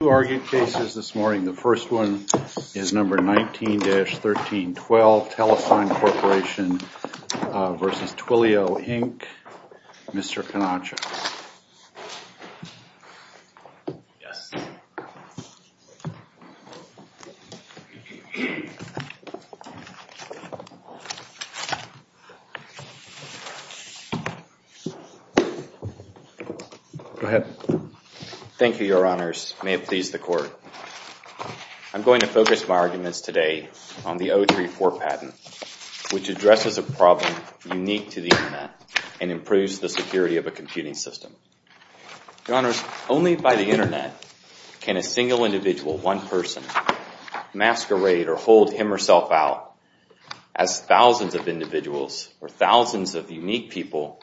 The first one is number 19-1312, Telesign Corporation v. Twilio, Inc., Mr. Canaccia. Thank you, Your Honors. May it please the Court. I'm going to focus my arguments today on the 034 patent, which addresses a problem unique to the Internet and improves the security of a computing system. Your Honors, only by the Internet can a single individual, one person, masquerade or hold him or herself out as thousands of individuals or thousands of unique people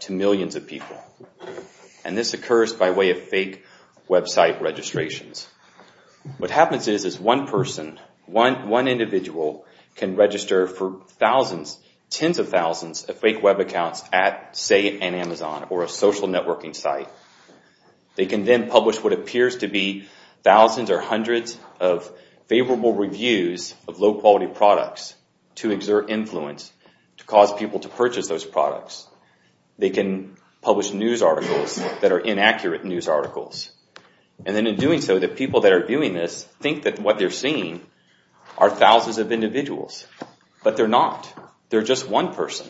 to millions of people, and this occurs by way of fake website registrations. What happens is one person, one individual, can register for thousands, tens of thousands of fake web accounts at, say, an Amazon or a social networking site. They can then publish what appears to be thousands or hundreds of favorable reviews of low-quality products to exert influence, to cause people to purchase those products. They can publish news articles that are inaccurate news articles, and then in doing so, the people that are viewing this think that what they're seeing are thousands of individuals, but they're not. They're just one person.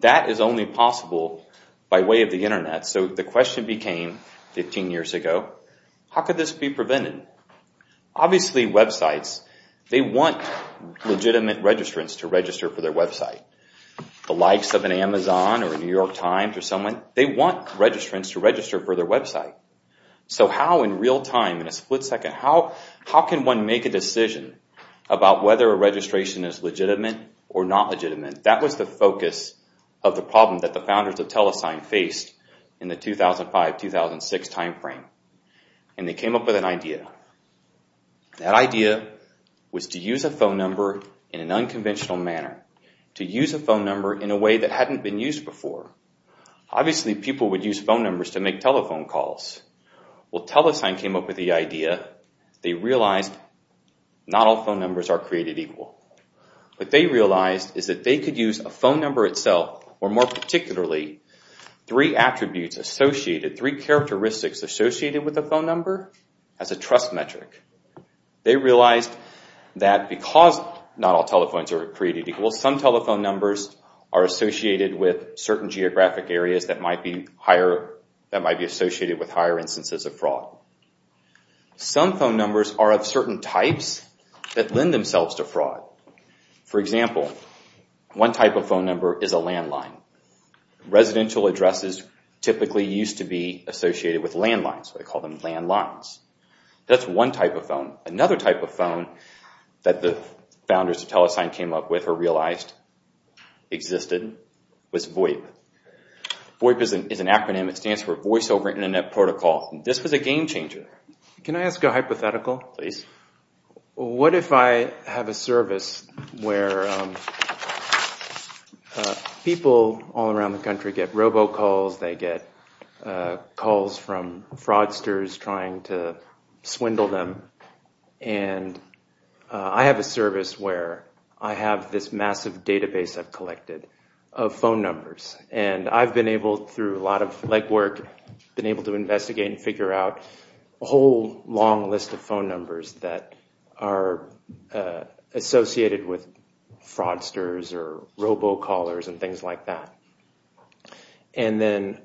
That is only possible by way of the Internet. So the question became, 15 years ago, how could this be prevented? Obviously, websites, they want legitimate registrants to register for their website. The likes of an Amazon or a New York Times or someone, they want registrants to register for their website. So how in real time, in a split second, how can one make a decision about whether a registration is legitimate or not legitimate? That was the focus of the problem that the founders of TeleSign faced in the 2005-2006 timeframe, and they came up with an idea. That idea was to use a phone number in an unconventional manner, to use a phone number in a way that hadn't been used before. Obviously, people would use phone numbers to make telephone calls. Well, TeleSign came up with the idea. They realized not all phone numbers are created equal. What they realized is that they could use a phone number itself, or more particularly, three attributes associated, three characteristics associated with a phone number, as a trust metric. They realized that because not all telephones are created equal, some telephone numbers are associated with certain geographic areas that might be associated with higher instances of fraud. Some phone numbers are of certain types that lend themselves to fraud. For example, one type of phone number is a landline. Residential addresses typically used to be associated with landlines, so they called them landlines. That's one type of phone. Another type of phone that the founders of TeleSign came up with or realized existed was VOIP. VOIP is an acronym. It stands for What if I have a service where people all around the country get robocalls, they get calls from fraudsters trying to swindle them, and I have a service where I have this massive database I've collected of phone numbers. I've been able, through a lot of legwork, been able to investigate and figure out a whole long list of phone numbers that are associated with fraudsters or robocallers and things like that. And then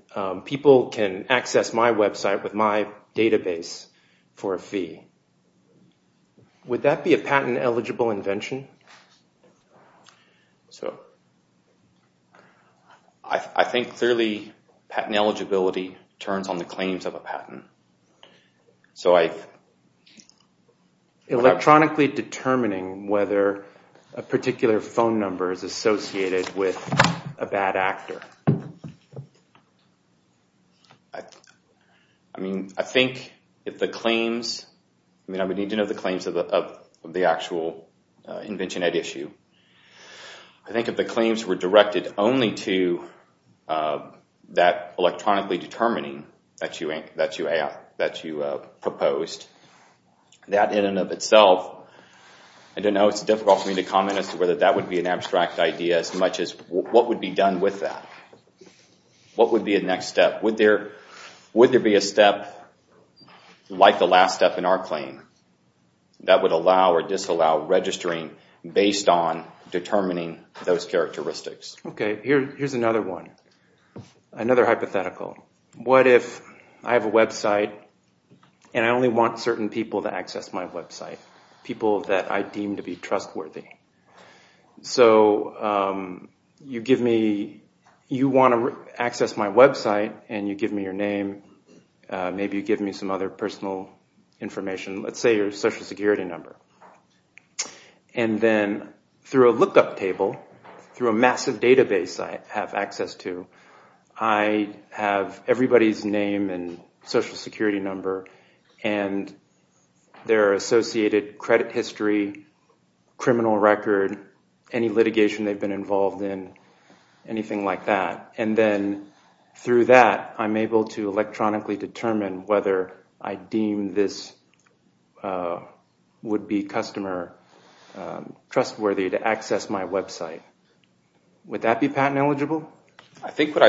people can access my website with my database for a fee. Would that be a patent eligible invention? I think, clearly, patent eligibility turns on the claims of a patent. Electronically determining whether a particular phone number is associated with a bad actor. I would need to know the claims of the actual invention at issue. I think if the claims were directed only to that electronically determining that you proposed, that in and of itself, I don't know. It's difficult for me to comment as to whether that would be an abstract idea as much as what would be done with that. What would be a next step? Would there be a step like the last step in our claim that would allow or disallow registering based on determining those characteristics? Here's another one. Another hypothetical. What if I have a website and I only want certain people to access my website? People that I deem to be trustworthy. So you want to access my website and you give me your name, maybe you give me some other personal information. Let's say your social security number. And then through a lookup table, through a massive database I have access to, I have everybody's name and social security number and I can see their associated credit history, criminal record, any litigation they've been involved in, anything like that. And then through that I'm able to electronically determine whether I deem this would-be customer trustworthy to access my website. Would that be patent eligible? I think what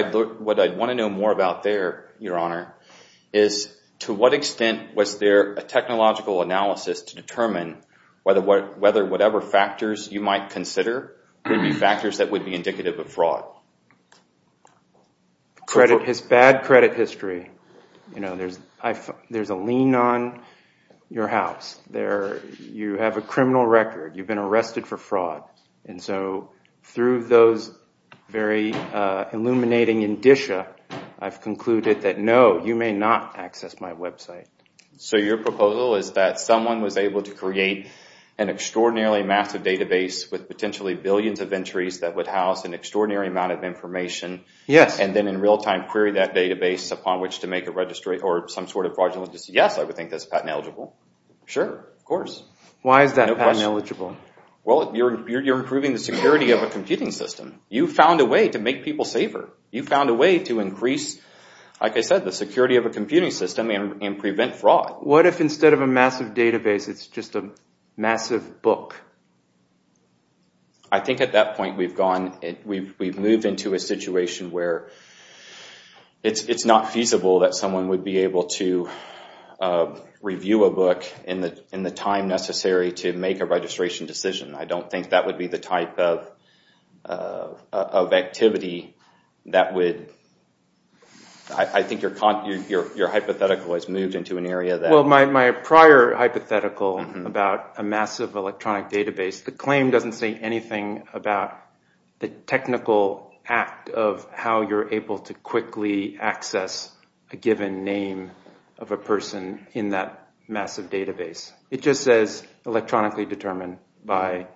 I'd want to know more about there, Your Honor, is to what extent was there a technological analysis to determine whether whatever factors you might consider would be factors that would be indicative of fraud? Bad credit history. There's a lien on your house. You have a criminal record. You've been arrested for fraud. And so through those very illuminating indicia, I've concluded that no, you may not access my website. So your proposal is that someone was able to create an extraordinarily massive database with potentially billions of entries that would house an extraordinary amount of information and then in real time query that database upon which to make a registry or some sort of fraudulent decision. Yes, I would think that's patent eligible. Sure, of course. Why is that patent eligible? Well, you're improving the security of a computing system. You found a way to make people safer. You found a way to increase, like I said, the security of a computing system and prevent fraud. What if instead of a massive database, it's just a massive book? I think at that point we've moved into a situation where it's not feasible that someone would be able to review a book in the time necessary to make a registration decision. I don't think that would be the type of activity that would... I think your hypothetical has moved into an area that... Well, my prior hypothetical about a massive electronic database, the claim doesn't say anything about the technical act of how you're able to quickly access a given name of a person in that massive database. It just says electronically determined by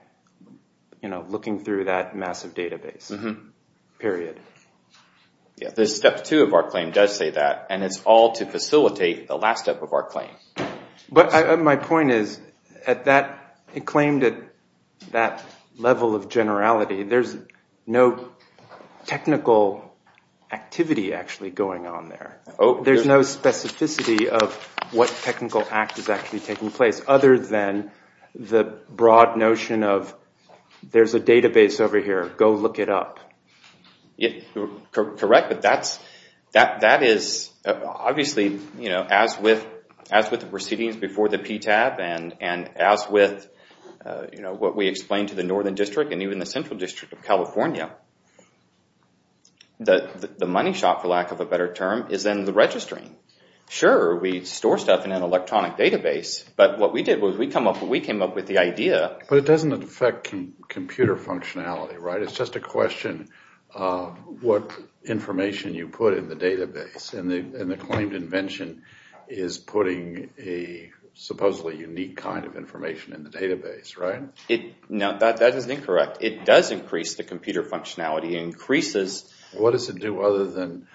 looking through that massive database, period. The step two of our claim does say that, and it's all to facilitate the last step of our claim. My point is, it claimed at that level of generality, there's no technical activity actually going on there. There's no specificity of what technical act is actually taking place other than the broad notion of, there's a database over here, go look it up. Correct, but that is obviously, as with the proceedings before the PTAB and as with what we explained to the Northern District and even the Central District of California, the money shop, for lack of a better term, is in the registering. Sure, we store stuff in an electronic database, but what we did was we came up with the idea... But it doesn't affect computer functionality, right? It's just a question of what information you put in the database. The claimed invention is putting a supposedly unique kind of information in the database, right? That is incorrect. It does increase the computer functionality. It increases... What does it do other than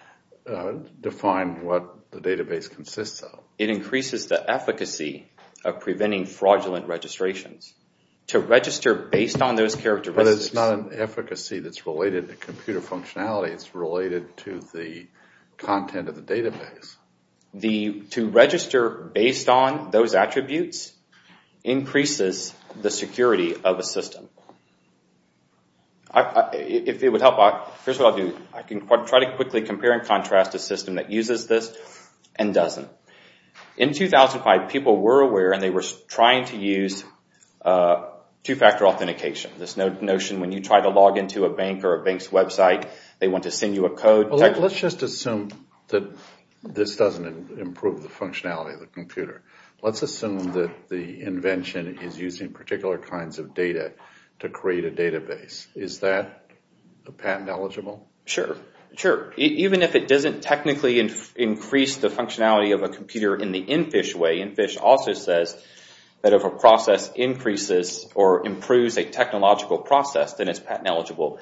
define what the database consists of? It increases the efficacy of preventing fraudulent registrations. To register based on those characteristics... But it's not an efficacy that's related to computer functionality, it's related to the content of the database. To register based on those attributes increases the security of a system. If it would help, here's what I'll do. I can try to quickly compare and contrast a system that uses this and doesn't. In 2005, people were aware and they were trying to use two-factor authentication. This notion when you try to log into a bank or a bank's website, they want to send you a code... Let's just assume that this doesn't improve the functionality of the computer. Let's assume that the invention is using particular kinds of data to create a database. Is that patent eligible? Sure. Even if it doesn't technically increase the functionality of a computer in the InFISH way, InFISH also says that if a process increases or improves a technological process, then it's patent eligible.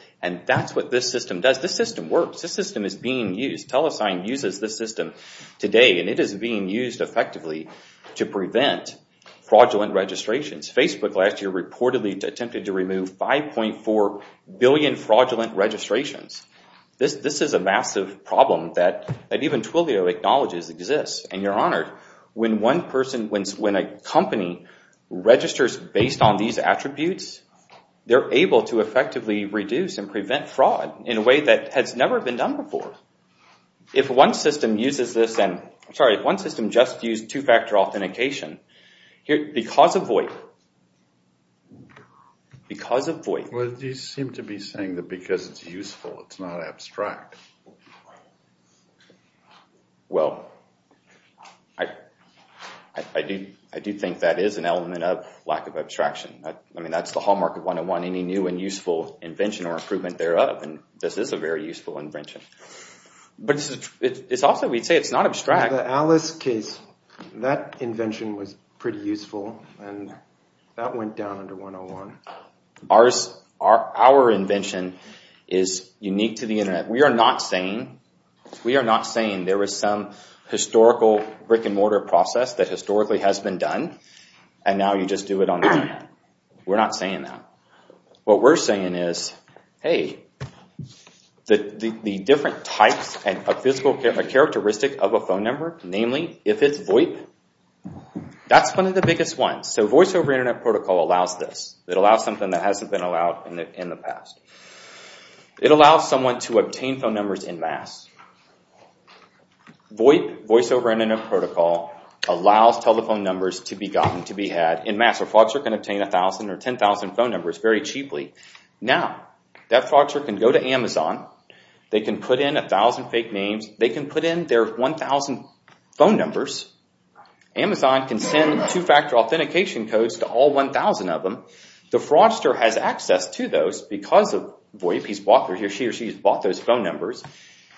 That's what this system does. This system works. This system is being used to prevent fraudulent registrations. Facebook last year reportedly attempted to remove 5.4 billion fraudulent registrations. This is a massive problem that even Twilio acknowledges exists. You're honored. When a company registers based on these attributes, they're able to effectively reduce and prevent fraud in a way that has never been done before. If one system just used two-factor authentication, because of VoIP, because of VoIP... You seem to be saying that because it's useful, it's not abstract. I do think that is an element of lack of abstraction. That's the hallmark of 101, any new and useful invention or improvement thereof. This is a very useful invention. Also, we'd say it's not abstract. In the Alice case, that invention was pretty useful, and that went down under 101. Our invention is unique to the Internet. We are not saying there was some historical brick and mortar process that historically has been done, and now you just do it on the Internet. We're not saying that. What we're saying is, hey, the different types and characteristics of a phone number, namely, if it's VoIP, that's one of the biggest ones. Voice-over Internet Protocol allows this. It allows something that hasn't been allowed in the past. It allows someone to obtain phone numbers en masse. Voice-over Internet Protocol allows telephone numbers to be gotten, to be had, en masse. A fraudster can obtain 1,000 or 10,000 phone numbers very cheaply. Now, that fraudster can go to Amazon. They can put in 1,000 fake names. They can put in their 1,000 phone numbers. Amazon can send two-factor authentication codes to all 1,000 of them. The fraudster has access to those because of VoIP. He or she has bought those phone numbers,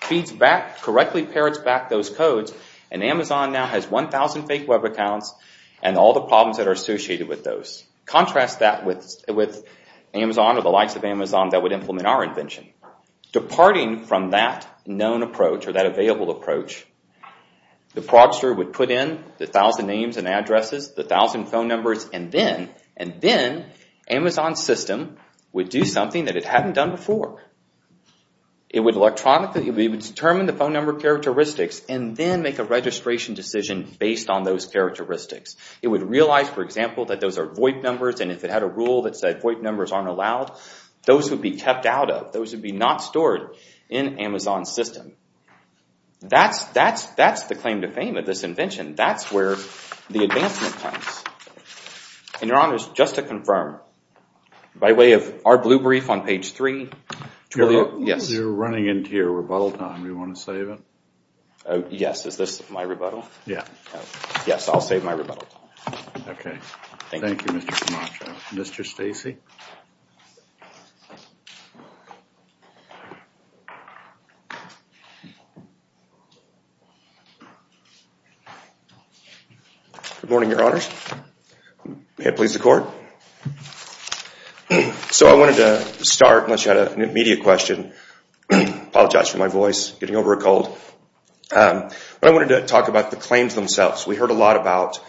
feeds back, correctly parrots back those codes, and Amazon now has 1,000 fake web accounts and all the problems that are associated with those. Contrast that with Amazon or the likes of Amazon that would implement our invention. Departing from that known approach or that available approach, the fraudster would put in the 1,000 names and addresses, the 1,000 phone numbers, and then Amazon's system would do something that it hadn't done before. It would electronically determine the phone number characteristics and then make a registration decision based on those characteristics. It would realize, for example, that those are VoIP numbers, and if it had a rule that said VoIP numbers aren't allowed, those would be kept out of. Those would be not stored in Amazon's system. That's the claim to fame of this invention. That's where the advancement comes. Your Honor, just to confirm, by way of our blue brief on page 3, yes? You're running into your rebuttal time. Do you want to save it? Yes. Is this my rebuttal? Yes. Yes, I'll save my rebuttal. Okay. Thank you, Mr. Camacho. Mr. Stacey? Good morning, Your Honors. May it please the Court? So I wanted to start, unless you had an immediate question. I apologize for my voice, getting over a cold. But I wanted to talk about the claims themselves. We heard a lot about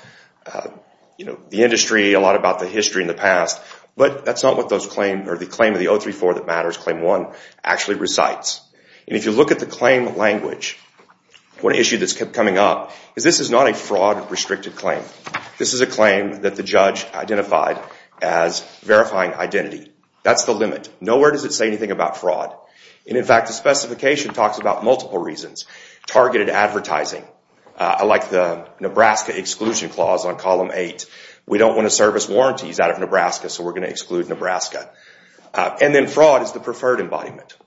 the industry, a lot about the history in the past, but that's not what the claim of the 034 that matters, Claim 1, actually recites. And if you look at the claim language, one issue that's kept coming up is this is not a fraud-restricted claim. This is a claim that the judge identified as verifying identity. That's the limit. Nowhere does it say anything about fraud. And in fact, the specification talks about multiple reasons. Targeted advertising. I like the Nebraska Exclusion Clause on Column 8. We don't want to service warranties out of Nebraska, so we're going to exclude Nebraska. And then fraud is the preferred embodiment.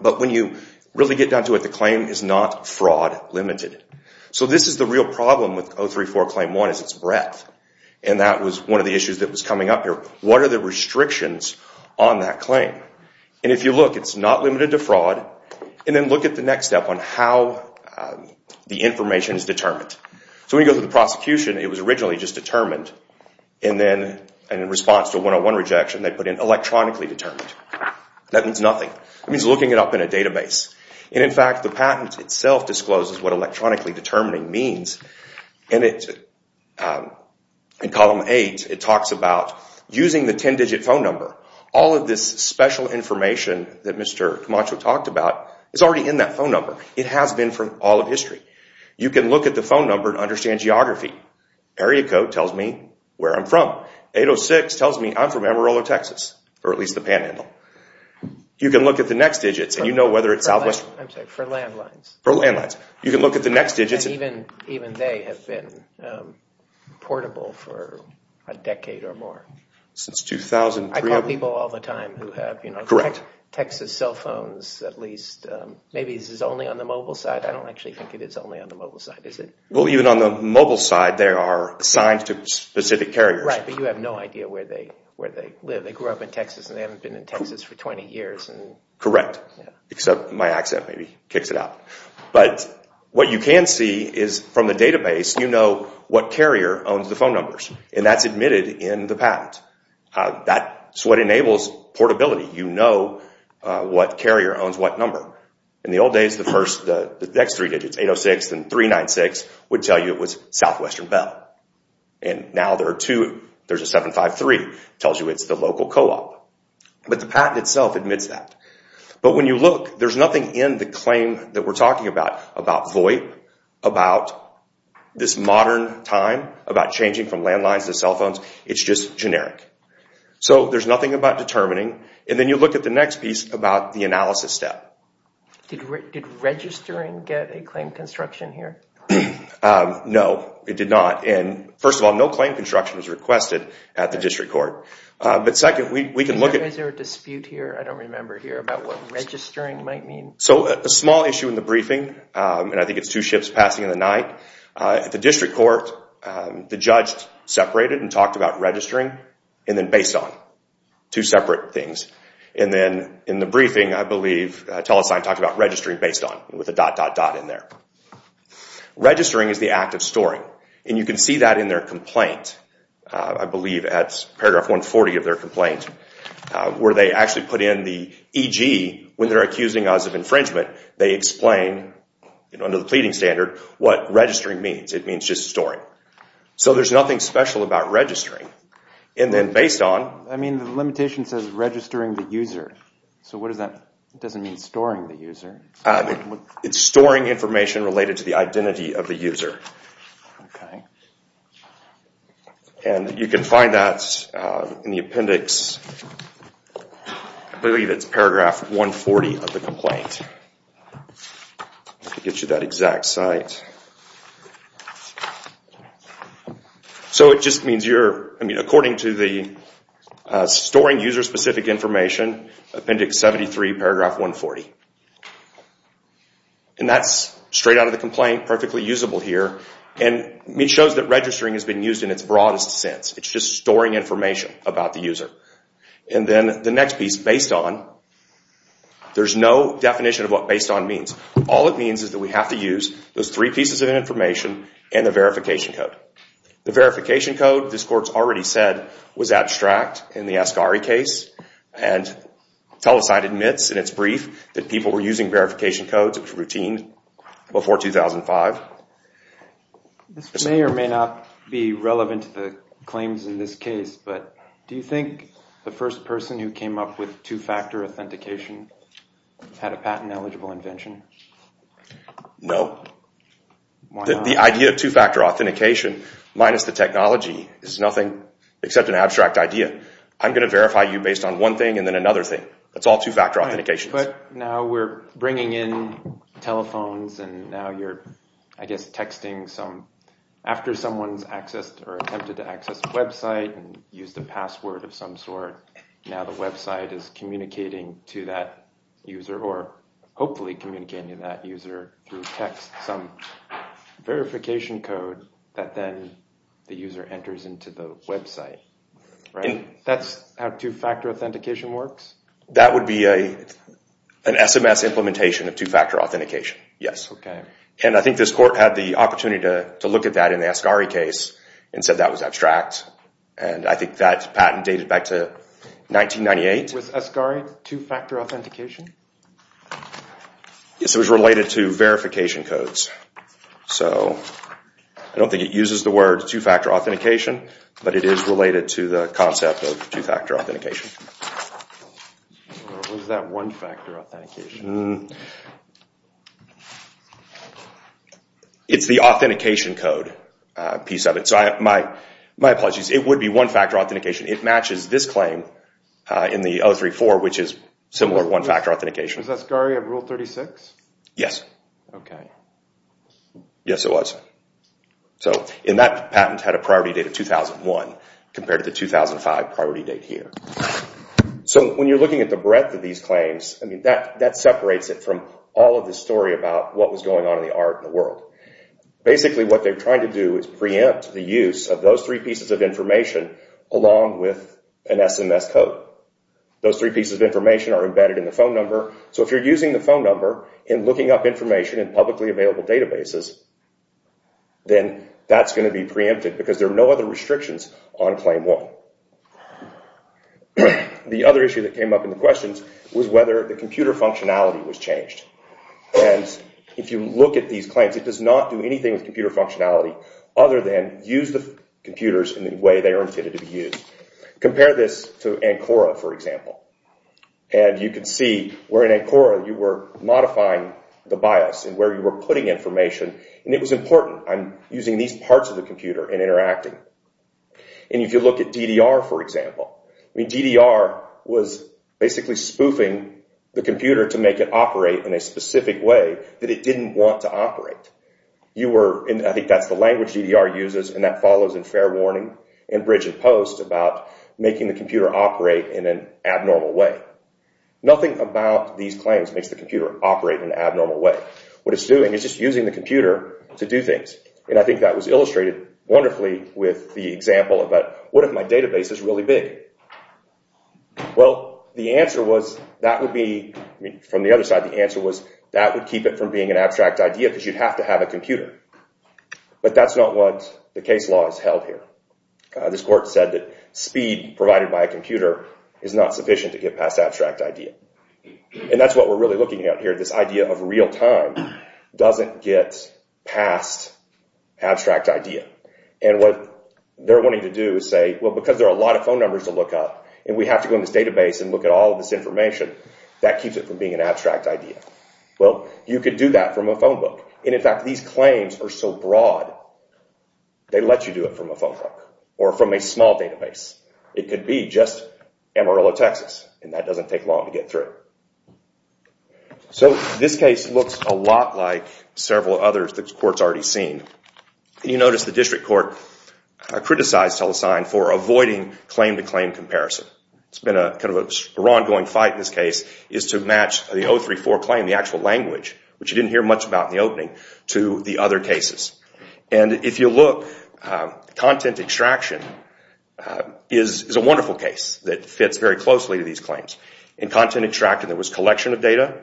But when you really get down to it, the claim is not fraud-limited. So this is the real problem with 034, Claim 1, is its breadth. And that was one of the issues that was coming up here. What are the restrictions on that claim? And if you look, it's not limited to fraud. And then look at the next step on how the information is determined. So we go to the prosecution. It was originally just determined. And then in response to a 101 rejection, they put in electronically determined. That means nothing. It means looking it up in a database. And in fact, the patent itself discloses what electronically determining means. And in Column 8, it talks about using the 10-digit phone number. All of this special information that Mr. Camacho talked about is already in that phone number. It has been for all of history. You can look at the phone number and understand geography. Area code tells me where I'm from. 806 tells me I'm from Amarillo, Texas, or at least the panhandle. You can look at the next digits and you know whether it's southwestern. And even they have been portable for a decade or more. I call people all the time who have Texas cell phones at least. Maybe this is only on the mobile side. I don't actually think it is only on the mobile side, is it? Well, even on the mobile side, there are signs to specific carriers. Right, but you have no idea where they live. They grew up in Texas and they haven't been in Texas for 20 years. Correct, except my accent maybe kicks it out. But what you can see is from the database, you know what carrier owns the phone numbers. And that's admitted in the patent. That's what enables portability. You know what carrier owns what number. In the old days, the next three digits, 806 and 396, would tell you it was Southwestern Bell. And now there are two. There's a 753 that tells you it's the local co-op. But the patent itself admits that. But when you look, there's nothing in the claim that we're talking about, about VoIP, about this modern time, about changing from landlines to cell phones. It's just generic. So there's nothing about determining. And then you look at the next piece about the analysis step. Did registering get a claim construction here? No, it did not. And first of all, no claim construction was requested at the district court. Is there a dispute here? I don't remember here about what registering might mean. So a small issue in the briefing, and I think it's two ships passing in the night. At the district court, the judge separated and talked about registering and then based on, two separate things. And then in the briefing, I believe, Telesign talked about registering based on, with a dot dot dot in there. Registering is the act of storing. And you can see that in their complaint. I believe it's paragraph 140 of their complaint. Where they actually put in the EG, when they're accusing us of infringement, they explain, under the pleading standard, what registering means. It means just storing. So there's nothing special about registering. And then based on... I mean, the limitation says registering the user. So what does that... it doesn't mean storing the user. And you can find that in the appendix. I believe it's paragraph 140 of the complaint. It gives you that exact site. So it just means you're... I mean, according to the storing user-specific information, appendix 73, paragraph 140. And that's straight out of the complaint, perfectly usable here. And it shows that registering has been used in its broadest sense. It's just storing information about the user. And then the next piece, based on, there's no definition of what based on means. All it means is that we have to use those three pieces of information and the verification code. The verification code, this court's already said, was abstract in the Asgari case. And TeleCite admits in its brief that people were using verification codes. It was routine before 2005. This may or may not be relevant to the claims in this case. But do you think the first person who came up with two-factor authentication had a patent-eligible invention? No. The idea of two-factor authentication, minus the technology, is nothing except an abstract idea. I'm going to verify you based on one thing and then another thing. That's all two-factor authentication. But now we're bringing in telephones, and now you're, I guess, texting some... After someone's accessed or attempted to access a website and used a password of some sort, now the website is communicating to that user, or hopefully communicating to that user through text, some verification code that then the user enters into the website. That's how two-factor authentication works? That would be an SMS implementation of two-factor authentication, yes. And I think this court had the opportunity to look at that in the Asgari case and said that was abstract. And I think that patent dated back to 1998. Was Asgari two-factor authentication? Yes, it was related to verification codes. So I don't think it uses the word two-factor authentication, but it is related to the concept of two-factor authentication. What is that one-factor authentication? It's the authentication code piece of it. So my apologies, it would be one-factor authentication. It matches this claim in the 034, which is similar to one-factor authentication. Was Asgari a Rule 36? Yes. Yes, it was. And that patent had a priority date of 2001 compared to the 2005 priority date here. So when you're looking at the breadth of these claims, that separates it from all of the story about what was going on in the art and the world. Basically what they're trying to do is preempt the use of those three pieces of information along with an SMS code. Those three pieces of information are embedded in the phone number. So if you're using the phone number and looking up information in publicly available databases, then that's going to be preempted because there are no other restrictions on Claim 1. The other issue that came up in the questions was whether the computer functionality was changed. And if you look at these claims, it does not do anything with computer functionality other than use the computers in the way they are intended to be used. Compare this to Ancora, for example. And you can see where in Ancora you were modifying the BIOS and where you were putting information. And it was important on using these parts of the computer and interacting. And if you look at DDR, for example, DDR was basically spoofing the computer to make it operate in a specific way that it didn't want to operate. I think that's the language DDR uses, and that follows in Fair Warning and Bridge and Post about making the computer operate in an abnormal way. Nothing about these claims makes the computer operate in an abnormal way. What it's doing is just using the computer to do things. And I think that was illustrated wonderfully with the example about, what if my database is really big? Well, the answer was that would keep it from being an abstract idea because you'd have to have a computer. But that's not what the case law has held here. This court said that speed provided by a computer is not sufficient to get past abstract idea. And that's what we're really looking at here. This idea of real time doesn't get past abstract idea. And what they're wanting to do is say, well, because there are a lot of phone numbers to look up, and we have to go in this database and look at all of this information, that keeps it from being an abstract idea. Well, you could do that from a phone book. And in fact, these claims are so broad, they let you do it from a phone book or from a small database. It could be just Amarillo, Texas, and that doesn't take long to get through. So this case looks a lot like several others that the court's already seen. You notice the district court criticized Tell-A-Sign for avoiding claim-to-claim comparison. It's been kind of an ongoing fight in this case, is to match the 034 claim, the actual language, which you didn't hear much about in the opening, to the other cases. And if you look, content extraction is a wonderful case that fits very closely to these claims. In content extraction, there was collection of data.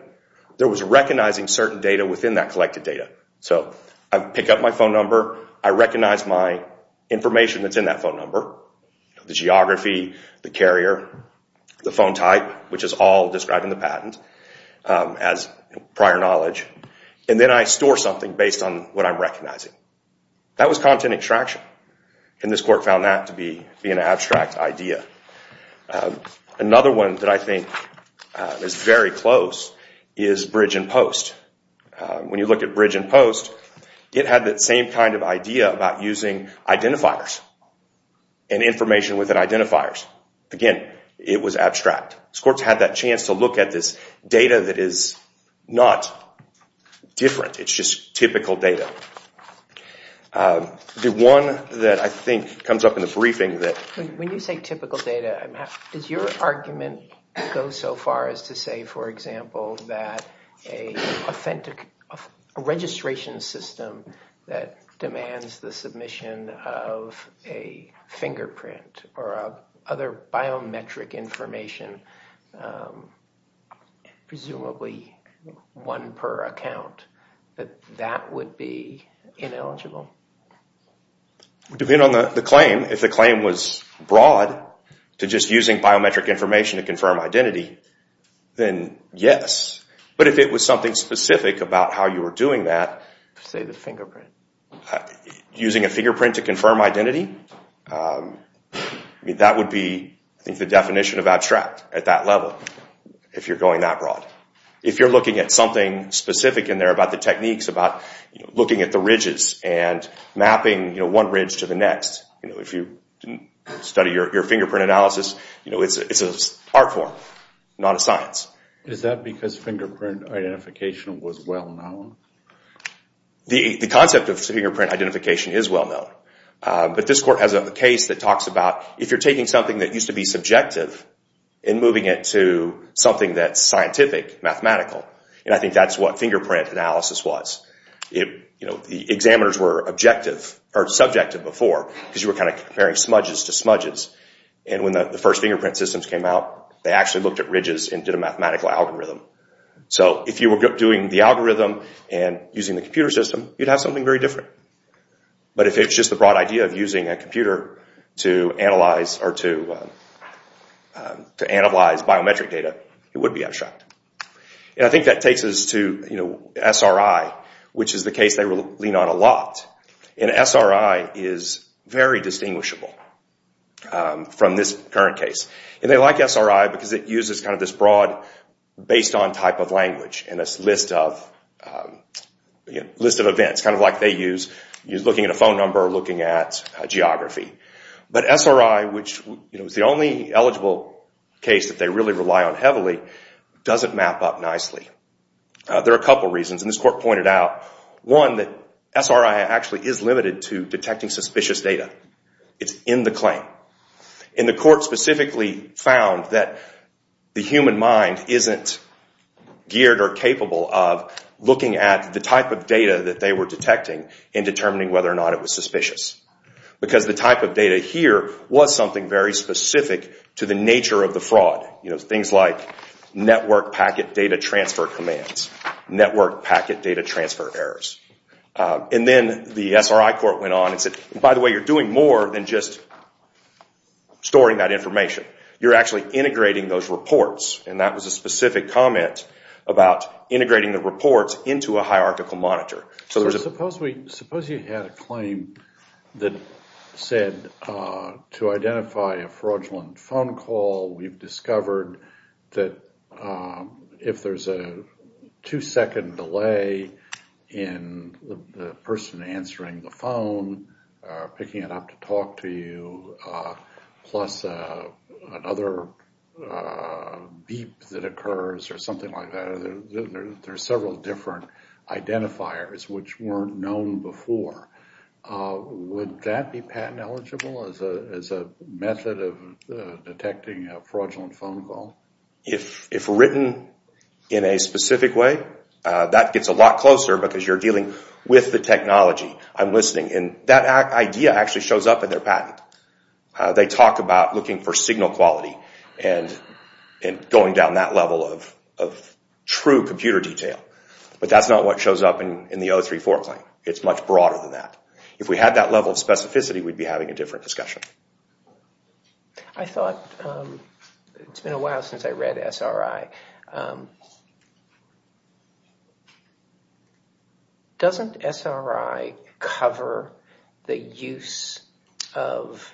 There was recognizing certain data within that collected data. So I pick up my phone number. I recognize my information that's in that phone number, the geography, the carrier, the phone type, which is all described in the patent as prior knowledge. And then I store something based on what I'm recognizing. That was content extraction. And this court found that to be an abstract idea. Another one that I think is very close is Bridge and Post. When you look at Bridge and Post, it had that same kind of idea about using identifiers. And information within identifiers. Again, it was abstract. This court's had that chance to look at this data that is not different. It's just typical data. The one that I think comes up in the briefing that... When you say typical data, does your argument go so far as to say, for example, that a registration system that demands the submission of a fingerprint or other biometric information, presumably one per account, that that would be ineligible? It would depend on the claim. If the claim was broad to just using biometric information to confirm identity, then yes. But if it was something specific about how you were doing that, say the fingerprint, using a fingerprint to confirm identity, that would be the definition of abstract at that level if you're going that broad. If you're looking at something specific in there about the techniques, about looking at the ridges and mapping one ridge to the next, if you study your fingerprint analysis, it's an art form. Not a science. Is that because fingerprint identification was well-known? The concept of fingerprint identification is well-known. But this court has a case that talks about if you're taking something that used to be subjective and moving it to something that's scientific, mathematical, and I think that's what fingerprint analysis was. The examiners were subjective before because you were comparing smudges to smudges. When the first fingerprint systems came out, they actually looked at ridges and did a mathematical algorithm. So if you were doing the algorithm and using the computer system, you'd have something very different. But if it's just the broad idea of using a computer to analyze biometric data, it would be abstract. I think that takes us to SRI, which is the case they lean on a lot. SRI is very distinguishable from this current case. They like SRI because it uses this broad based-on type of language and a list of events, kind of like they use looking at a phone number or looking at geography. But SRI, which is the only eligible case that they really rely on heavily, doesn't map up nicely. There are a couple of reasons, and this court pointed out, one, that SRI actually is limited to detecting suspicious data. It's in the claim. The court specifically found that the human mind isn't geared or capable of looking at the type of data that they were detecting and determining whether or not it was suspicious because the type of data here was something very specific to the nature of the fraud, things like network packet data transfer commands, network packet data transfer errors. And then the SRI court went on and said, by the way, you're doing more than just storing that information. You're actually integrating those reports, and that was a specific comment about integrating the reports into a hierarchical monitor. Suppose you had a claim that said to identify a fraudulent phone call, we've discovered that if there's a two-second delay in the person answering the phone, picking it up to talk to you, plus another beep that occurs or something like that, there are several different identifiers which weren't known before. Would that be patent eligible as a method of detecting a fraudulent phone call? If written in a specific way, that gets a lot closer because you're dealing with the technology. I'm listening, and that idea actually shows up in their patent. They talk about looking for signal quality and going down that level of true computer detail, but that's not what shows up in the 034 claim. It's much broader than that. If we had that level of specificity, we'd be having a different discussion. I thought, it's been a while since I read SRI, doesn't SRI cover the use of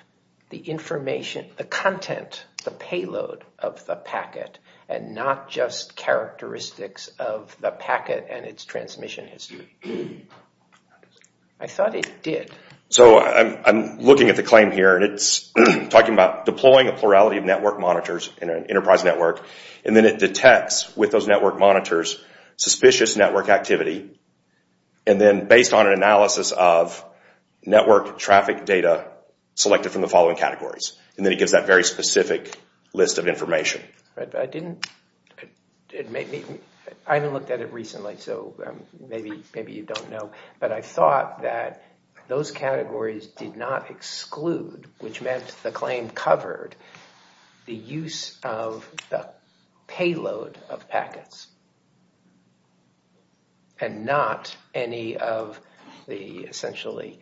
the information, the content, the payload of the packet, and not just characteristics of the packet and its transmission history? I thought it did. I'm looking at the claim here. It's talking about deploying a plurality of network monitors in an enterprise network, and then it detects, with those network monitors, suspicious network activity, and then based on an analysis of network traffic data, select it from the following categories. Then it gives that very specific list of information. I haven't looked at it recently, so maybe you don't know, but I thought that those categories did not exclude, which meant the claim covered the use of the payload of packets and not any of the, essentially,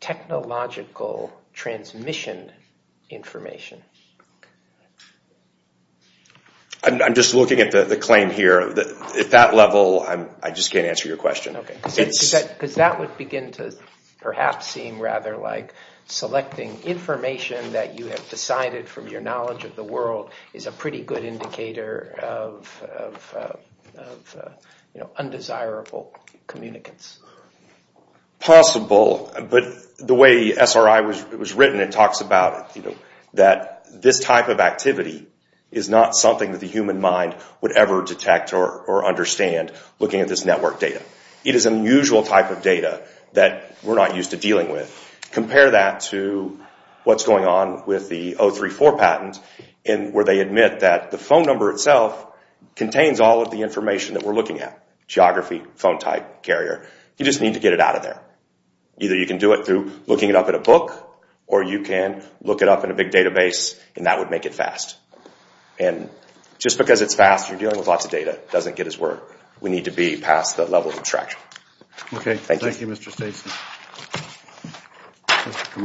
technological transmission information. I'm just looking at the claim here. At that level, I just can't answer your question. That would begin to perhaps seem rather like selecting information that you have decided from your knowledge of the world is a pretty good indicator of undesirable communicants. Possible, but the way SRI was written, it talks about that this type of activity is not something that the human mind would ever detect or understand looking at this network data. It is an unusual type of data that we're not used to dealing with. Compare that to what's going on with the 034 patent, where they admit that the phone number itself contains all of the information that we're looking at. Geography, phone type, carrier. You just need to get it out of there. Either you can do it through looking it up in a book, or you can look it up in a big database, and that would make it fast. Just because it's fast, you're dealing with lots of data. Okay, thank you, Mr. Staston. Your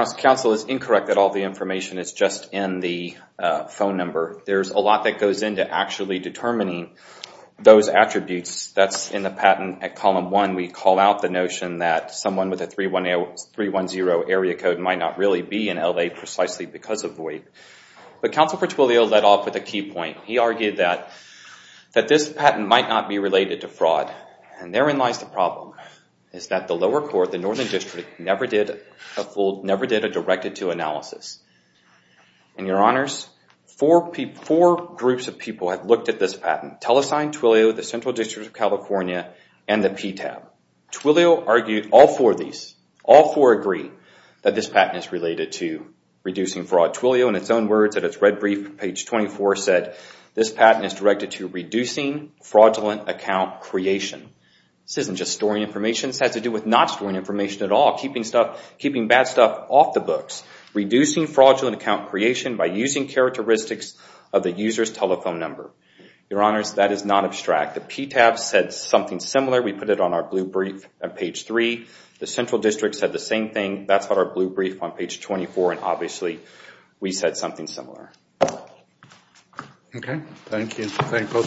Honor, counsel is incorrect that all the information is just in the phone number. There's a lot that goes into actually determining those attributes. That's in the patent at column one. We call out the notion that someone with a 310 area code might not really be in L.A. precisely because of VOID. But counsel Petualio led off with a key point. He argued that this patent might not be related to fraud. And therein lies the problem. It's that the lower court, the Northern District, never did a directed-to analysis. And, Your Honors, four groups of people have looked at this patent. TeleSign, Twilio, the Central District of California, and the PTAB. Twilio argued all four of these. All four agree that this patent is related to reducing fraud. Twilio, in its own words, in its red brief, page 24, said, This patent is directed to reducing fraudulent account creation. This isn't just storing information. This has to do with not storing information at all, keeping bad stuff off the books. Reducing fraudulent account creation by using characteristics of the user's telephone number. Your Honors, that is not abstract. The PTAB said something similar. We put it on our blue brief on page three. The Central District said the same thing. That's what our blue brief on page 24. And, obviously, we said something similar. Okay. Thank you. Thank you.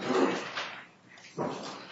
Thank you.